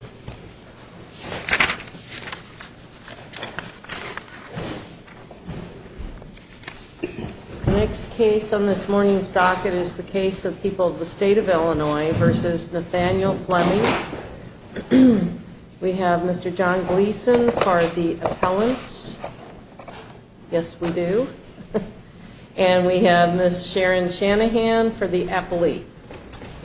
The next case on this morning's docket is the case of People of the State of Illinois v. Nathaniel Fleming. We have Mr. John Gleason for the appellant. Yes, we do. And we have Ms. Sharon Shanahan for the appellee.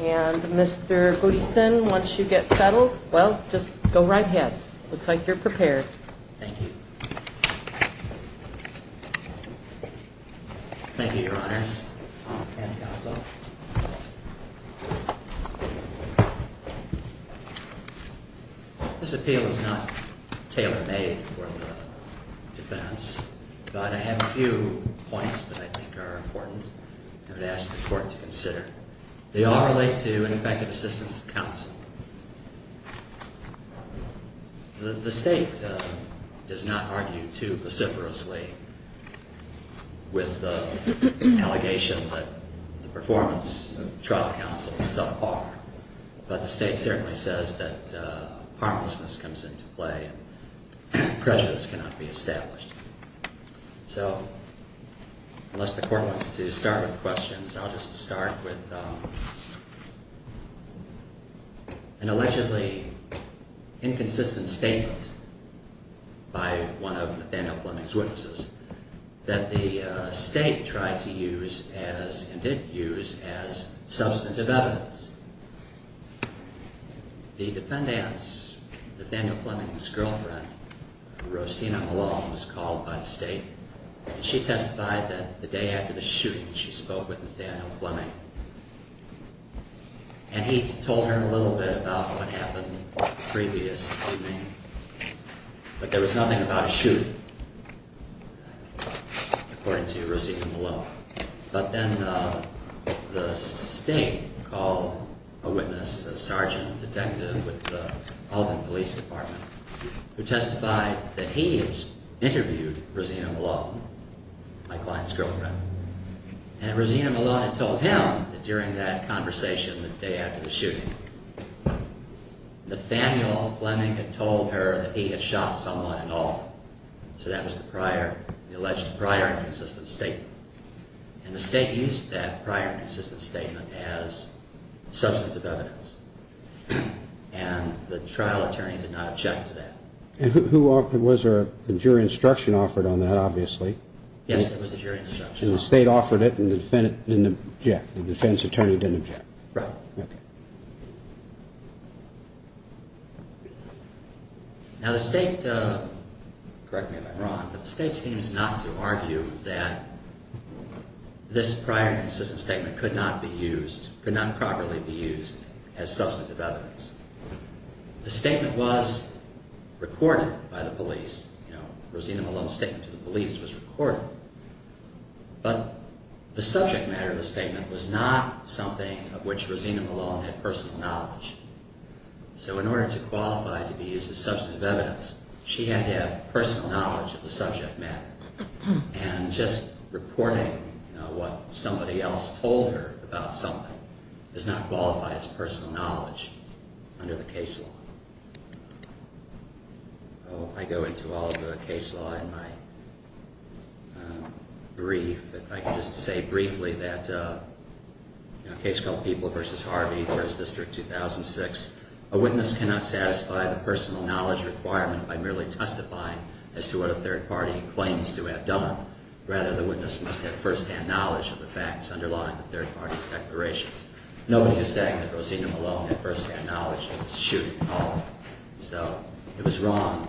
And Mr. Gleason, once you get settled, well, just go right ahead. Looks like you're prepared. Thank you. Thank you, Your Honors. This appeal is not tailor-made for the defense, but I have a few points that I think are important and would ask the Court to consider. They all relate to ineffective assistance of counsel. The State does not argue too vociferously with the allegation that the performance of the defense into play. Prejudice cannot be established. So, unless the Court wants to start with questions, I'll just start with an allegedly inconsistent statement by one of Nathaniel Fleming's witnesses that the State tried to use as, and did use, as substantive evidence. The defendant's, Nathaniel Fleming's, girlfriend, Rosina Malone, was called by the State, and she testified that the day after the shooting, she spoke with Nathaniel Fleming. And he told her a little bit about what happened the previous evening, but there was nothing about a shooting, according to Rosina Malone. But then the State called a witness, a sergeant, a detective with the Alton Police Department, who testified that he had interviewed Rosina Malone, my client's girlfriend. And Rosina Malone had told him that during that conversation the day after the shooting. Nathaniel Fleming had told her that he had shot someone in Alton. So that was the prior, the alleged prior inconsistent statement. And the State used that prior inconsistent statement as substantive evidence. And the trial attorney did not object to that. And who offered, was there a jury instruction offered on that, obviously? Yes, there was a jury instruction. And the State offered it, and the defendant didn't object? The defense attorney didn't object? Right. Now the State, correct me if I'm wrong, but the State seems not to argue that this prior inconsistent statement could not be used, could not properly be used as substantive evidence. The statement was recorded by the police, you know, Rosina Malone's statement to the police was recorded. But the subject matter of the statement was not something of which Rosina Malone had personal knowledge. So in order to qualify it to be used as substantive evidence, she had to have personal knowledge of the subject matter. And just reporting what somebody else told her about something does not qualify as personal knowledge under the case law. So I go into all of the case law in my brief. If I could just say briefly that a case called People v. Harvey, First District, 2006, a witness cannot satisfy the personal knowledge requirement by merely testifying as to what a third party claims to have done. Rather, the witness must have firsthand knowledge of the facts underlying the third party's declarations. Nobody is saying that Rosina Malone had firsthand knowledge of this shooting call. So it was wrong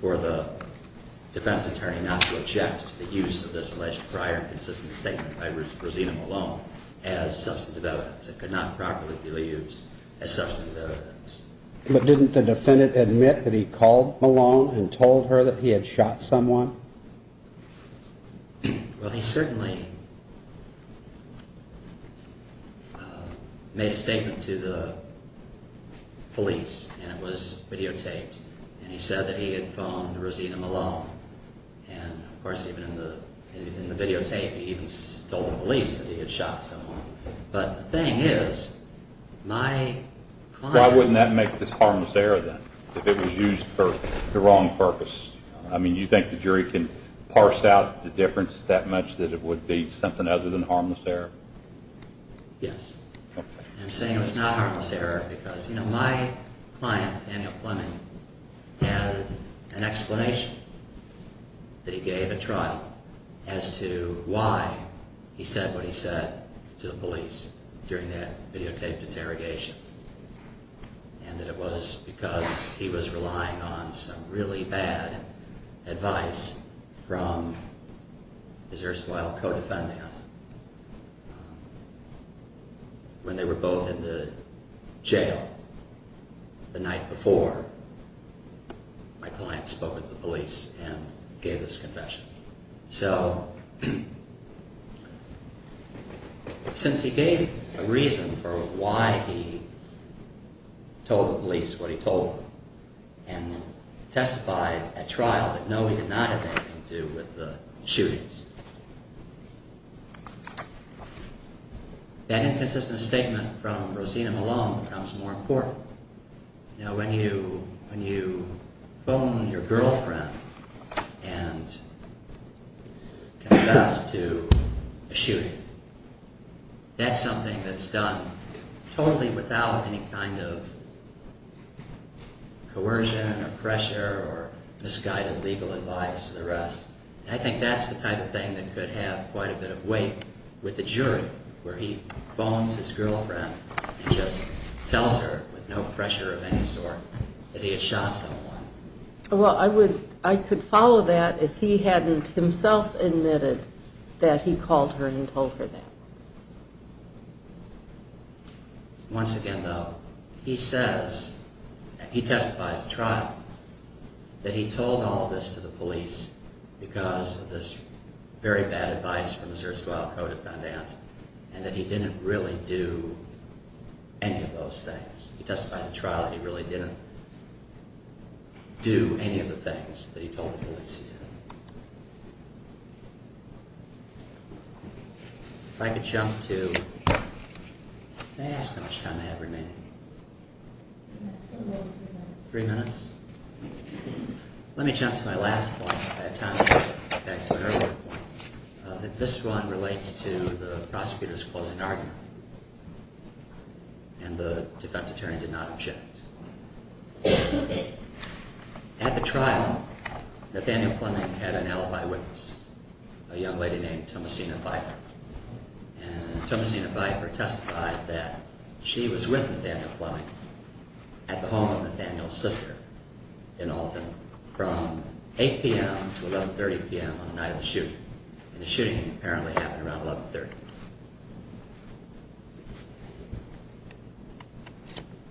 for the defense attorney not to object to the use of this alleged prior inconsistent statement by Rosina Malone as substantive evidence. It could not properly be used as substantive evidence. But didn't the defendant admit that he called Malone and told her that he had shot someone? Well, he certainly made a statement to the police, and it was videotaped. And he said that he had phoned Rosina Malone. And, of course, even in the videotape, he even told the police that he had shot someone. But the thing is, my client— Why wouldn't that make this harmless error, then, if it was used for the wrong purpose? I mean, do you think the jury can parse out the difference that much that it would be something other than harmless error? Yes. I'm saying it was not harmless error because, you know, my client, Daniel Fleming, had an explanation that he gave at trial as to why he said what he said to the police during that videotaped interrogation, and that it was because he was relying on some really bad advice from his erstwhile co-defendant. When they were both in the jail the night before, my client spoke with the police and gave a reason for why he told the police what he told them and testified at trial that, no, he did not have anything to do with the shootings. That inconsistent statement from Rosina Malone becomes more important. You know, when you phone your girlfriend and confess to a shooting, that's something that's done totally without any kind of coercion or pressure or misguided legal advice or the rest. I think that's the type of thing that could have quite a bit of weight with the jury, where he phones his girlfriend and just tells her with no pressure of any sort that he had shot someone. Well, I would—I could follow that if he hadn't himself admitted that he called her and told her that. Once again, though, he says—he testifies at trial—that he told all this to the police because of this very bad advice from his erstwhile co-defendant, and that he didn't really do any of those things. He testifies at trial that he really didn't do any of the things that the police did. If I could jump to—can I ask how much time I have remaining? Three minutes? Let me jump to my last point at that time, back to an earlier point. This one relates to the prosecutor's closing argument, and the defense attorney did not object. At the trial, Nathaniel Fleming had an alibi witness, a young lady named Tomasina Pfeiffer, and Tomasina Pfeiffer testified that she was with Nathaniel Fleming at the home of Nathaniel's sister in Alton from 8 p.m. to 11.30 p.m. on the night of the shooting, and the shooting apparently happened around 11.30.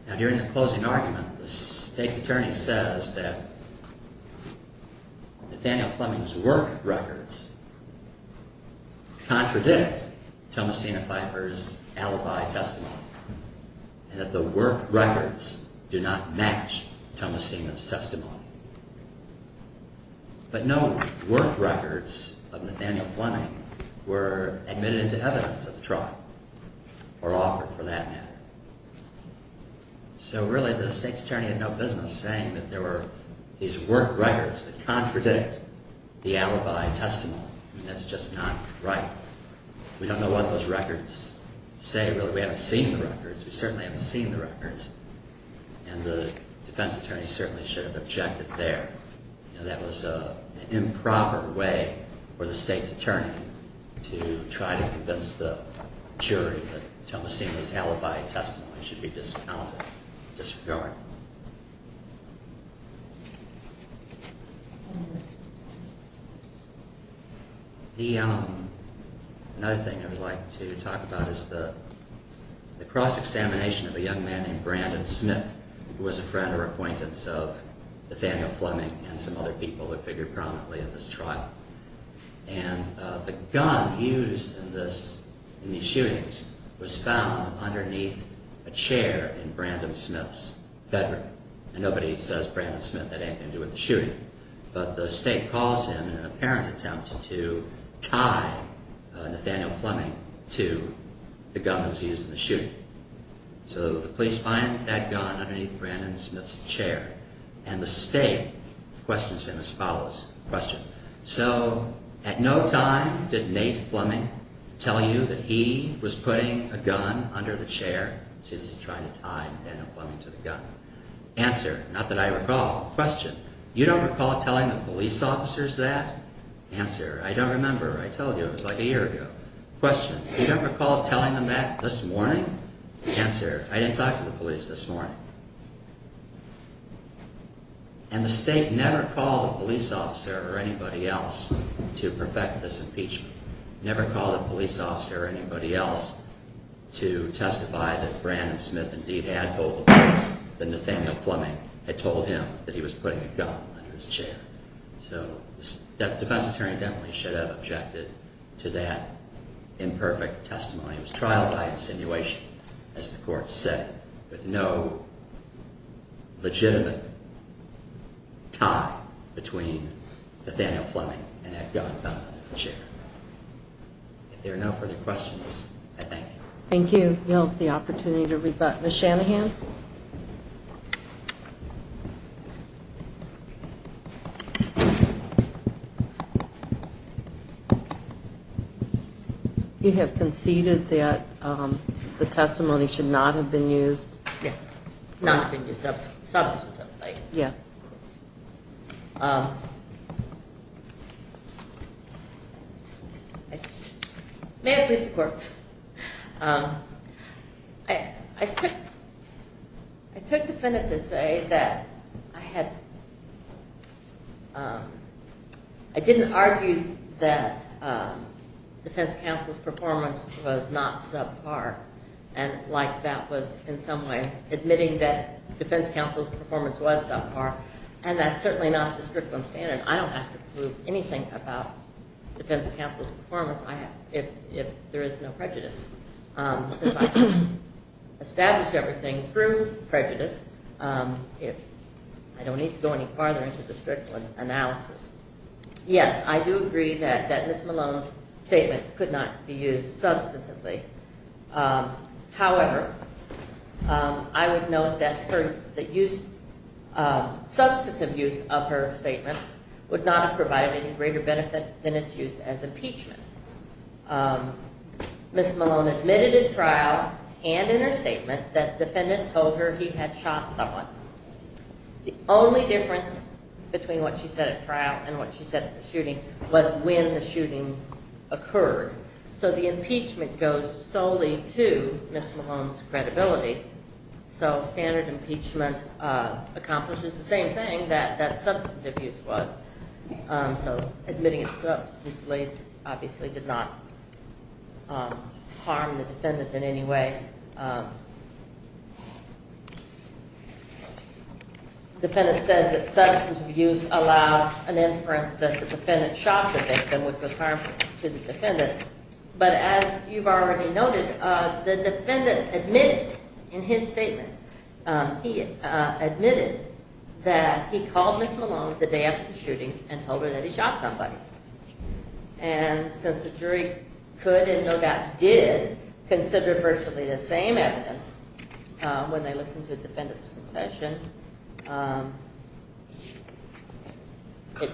Now, during the closing argument, the state's attorney says that Nathaniel Fleming's work records contradict Tomasina Pfeiffer's alibi testimony, and that the work records do not match Tomasina's testimony. But no work records of Nathaniel Fleming were admitted into evidence at the trial, or offered for that matter. So really, the state's attorney had no business saying that there were these work records that contradict the alibi testimony, and that's just not right. We don't know what those records say, really. We haven't seen the records. We certainly haven't seen the record there. That was an improper way for the state's attorney to try to convince the jury that Tomasina's alibi testimony should be discounted, disregarded. The other thing I would like to talk about is the cross-examination of a young man named Brandon Smith. Nathaniel Fleming and some other people were figured prominently at this trial. And the gun used in these shootings was found underneath a chair in Brandon Smith's bedroom. And nobody says, Brandon Smith, that ain't going to do with the shooting. But the state calls him in an apparent attempt to tie Nathaniel Fleming to the gun that was used in the shooting. So the state questions him as follows. Question. So at no time did Nate Fleming tell you that he was putting a gun under the chair. See, this is trying to tie Nathaniel Fleming to the gun. Answer. Not that I recall. Question. You don't recall telling the police officers that? Answer. I don't remember. I told you it was like a year ago. Question. You don't recall telling them that this morning? Answer. I didn't talk to the police this morning. And the state never called a police officer or anybody else to perfect this impeachment. Never called a police officer or anybody else to testify that Brandon Smith indeed had told the police that Nathaniel Fleming had told him that he was putting a gun under his chair. So the defense attorney definitely should have objected to that imperfect testimony. It was trial by insinuation, as the court said, with no legitimate tie between Nathaniel Fleming and that gun under the chair. If there are no further questions, I thank you. Thank you. We'll have the opportunity to rebut. Ms. Shanahan. You have conceded that the testimony should not have been used? Yes, not been used. Substantively. Yes. May I please report? I took defendant to say that I had, I didn't argue that defense counsel's performance was not subpar and like that was in some way admitting that defense counsel's performance was subpar. And that's certainly not the strictly standard. I don't have to prove anything about defense counsel's performance if there is no prejudice. Since I can establish everything through prejudice, I don't need to go any farther into the strictly analysis. Yes, I do agree that Ms. Malone's statement could not be used substantively. However, I would note that the use, the substantive use of her statement would not have provided any greater benefit than its use as impeachment. Ms. Malone admitted in trial and in her statement that defendants told her he had shot someone. The only difference between what she said at trial and what she said at the shooting was when the shooting occurred. So the impeachment goes solely to Ms. Malone's credibility. So standard impeachment accomplishes the same thing that that substantive use was. So admitting it substantively obviously did not harm the defendant in any way. The defendant says that substantive use allowed an inference that the defendant shot the victim, which was harmful to the defendant. But as you've already noted, the defendant admitted in his statement, he admitted that he called Ms. Malone the day after the shooting and told her that he shot somebody. And since the jury could and no doubt did consider virtually the same evidence when they listened to a defendant's confession,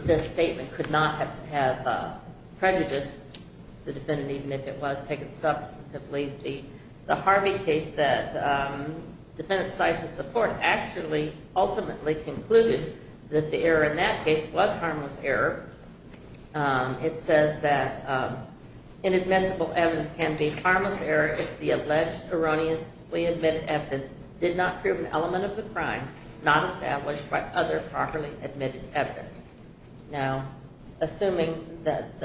this statement could not have prejudiced the defendant, even if it was taken substantively. The Harvey case that defendants cited to support actually ultimately concluded that the error in that case was harmless error. It says that inadmissible evidence can be harmless error if the alleged erroneously admitted evidence did not prove an element of the crime not established by other properly admitted evidence. Now, assuming that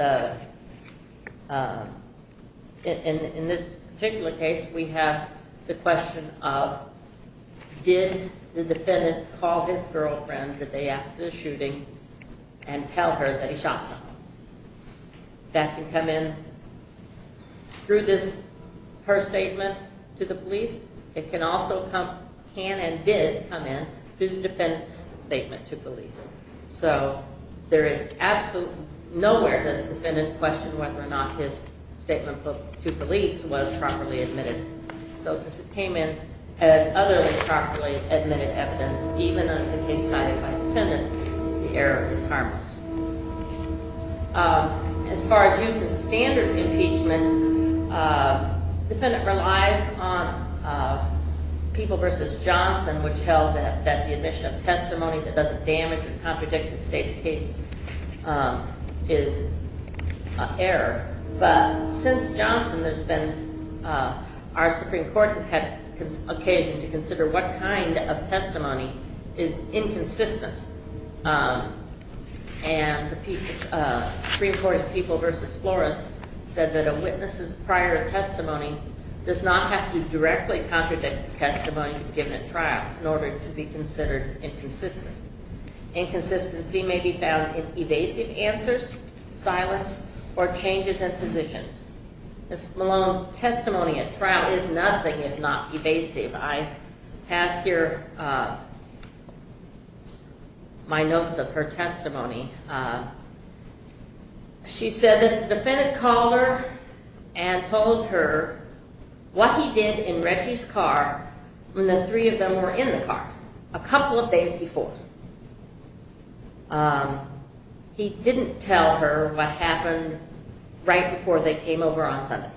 in this particular case, we have the question of, did the defendant call his girlfriend the day after the shooting and tell her that he shot someone? That can come in through this, her statement to the police. It can also come, can and did come in through the defendant's statement to police. So there is absolutely nowhere this defendant questioned whether or not his statement to police was properly admitted. So since it came in as other than properly admitted evidence, even on the case cited by defendant, the error is harmless. As far as use of standard impeachment, defendant relies on people versus Johnson, which held that the admission of testimony that doesn't damage or contradict the state's case is error. But since Johnson, there's been our Supreme Court has had occasion to consider what kind of testimony is inconsistent. And the Supreme Court of People versus Flores said that a witness's prior testimony does not have to directly contradict the testimony given at trial in order to be considered inconsistent. Inconsistency may be found in evasive answers, silence, or changes in positions. Ms. Malone's testimony at trial is nothing if not evasive. I have here my notes of her testimony. She said that the defendant called her and told her what he did in Reggie's car when the three of them were in the car a couple of days before. He didn't tell her what happened right before they came over on Sunday.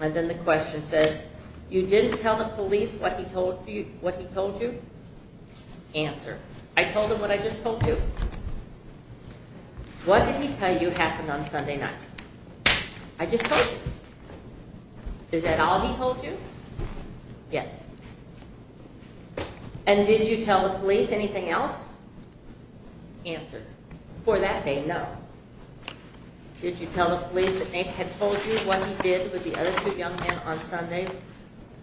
And then the question says, you didn't tell the police what he told you? Answer. I told them what I just told you. What did he tell you happened on Sunday night? I just told you. Is that all he told you? Yes. And did you tell the police anything else? Answer. For that day, no. Did you tell the police that Nate had told you what he did with the other two young men on Sunday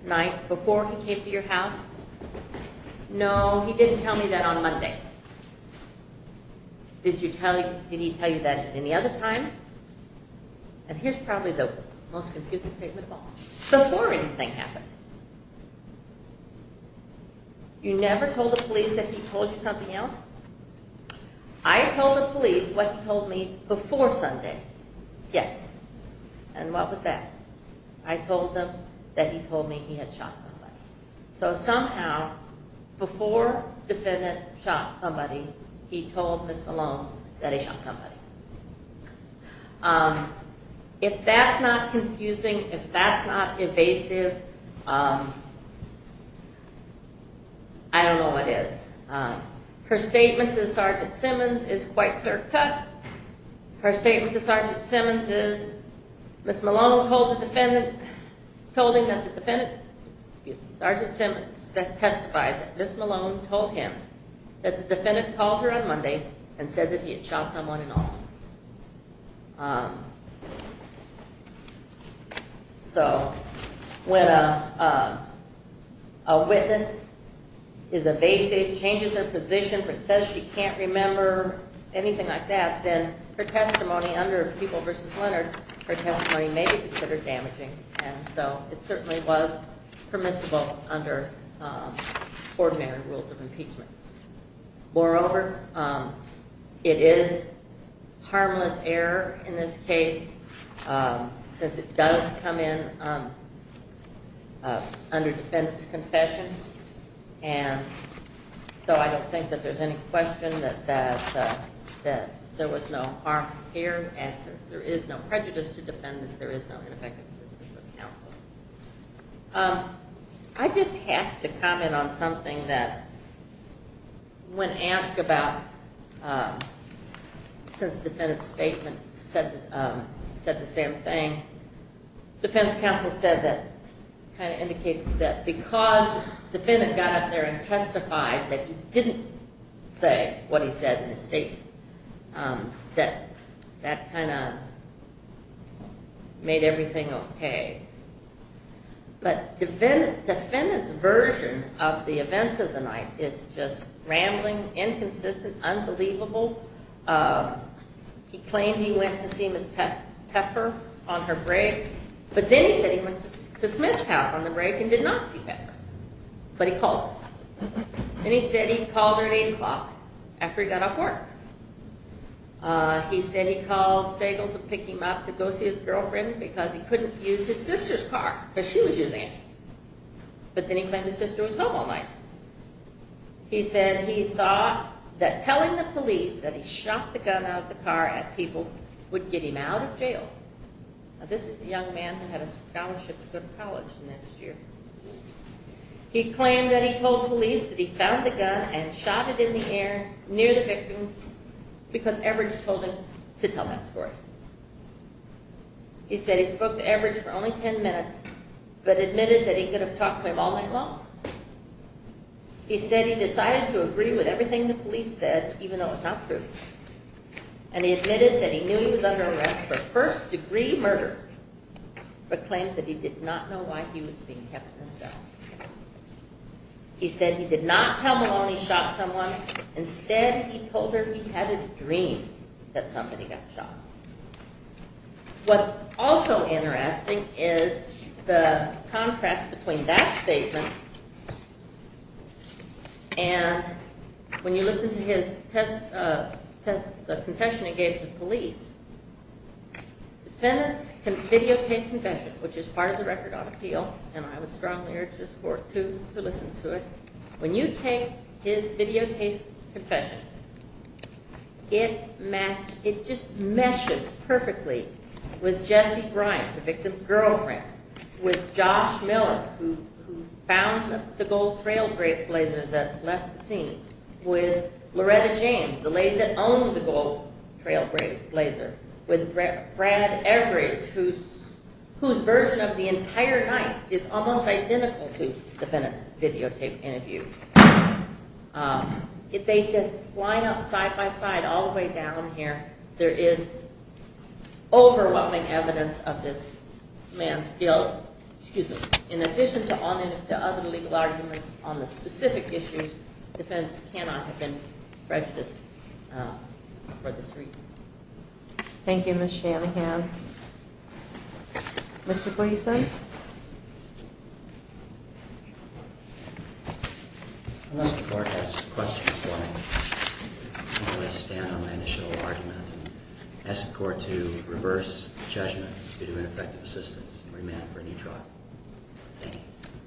night before he came to your house? No, he didn't tell me that on Monday. Did he tell you that any other time? And here's probably the most confusing statement of all. Before anything happened, you never told the police that he told you something else? I told the police what he told me before Sunday. Yes. And what was that? I told them that he told me he had shot somebody. So somehow, before the defendant shot somebody, he told Miss Malone that he shot somebody. If that's not confusing, if that's not evasive, I don't know what is. Her statement to Sergeant Simmons is quite clear-cut. Her statement to Sergeant Simmons is, Miss Malone told the defendant, told him that the defendant, Sergeant Simmons testified that Miss Malone told him that the defendant called her on Monday and said that he had shot someone in the arm. So when a witness is evasive, changes her position, says she can't remember, anything like that, then her testimony under People v. Leonard, her testimony may be considered damaging. And so it certainly was permissible under ordinary rules of impeachment. Moreover, it is harmless error in this case, since it does come in under defendant's confession. And so I don't think that there's any question that there was no harm here. And since there is no prejudice to defendants, there is no ineffective assistance of counsel. I just have to comment on something that when asked about, since the defendant's statement said the same thing, defense counsel said that, kind of indicated that because the defendant got up there and testified that he didn't say what he said in his statement, that that kind of made everything okay. But the defendant's version of the events of the night is just rambling, inconsistent, unbelievable. He claimed he went to see Miss Pfeffer on her break, but then he said he went to Smith's house on the break and did not see Pfeffer, but he called her. And he said he called her at 8 o'clock after he got off work. He said he called Stagel to pick him up to go see his sister's car because she was using it. But then he claimed his sister was home all night. He said he thought that telling the police that he shot the gun out of the car at people would get him out of jail. Now this is a young man who had a scholarship to go to college next year. He claimed that he told police that he found the gun and shot it in the air near the victims because Everidge told him to tell that story. He said he spoke to Everidge for only 10 minutes, but admitted that he could have talked to him all night long. He said he decided to agree with everything the police said, even though it was not true. And he admitted that he knew he was under arrest for first degree murder, but claimed that he did not know why he was being kept in a cell. He said he did not tell him. He said he did not dream that somebody got shot. What's also interesting is the contrast between that statement and when you listen to his confession he gave to the police. Defendants can videotape confession, which is part of the record on appeal, and I would strongly It just meshes perfectly with Jesse Bryant, the victim's girlfriend, with Josh Miller, who found the gold trailblazer that left the scene, with Loretta James, the lady that owned the gold trailblazer, with Brad Everidge, whose version of the entire night is almost identical to all the way down here. There is overwhelming evidence of this man's guilt. In addition to all the other legal arguments on the specific issues, defense cannot have been prejudiced for this reason. Thank you, Ms. Shanahan. Mr. Gleason? Unless the court has questions for me, I'm going to stand on my initial argument and ask the court to reverse judgment due to ineffective assistance and remand for a new trial.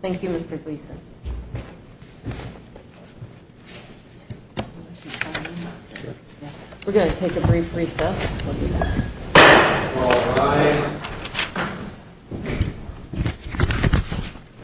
Thank you, Mr. Gleason. We're going to take a brief recess. Thank you.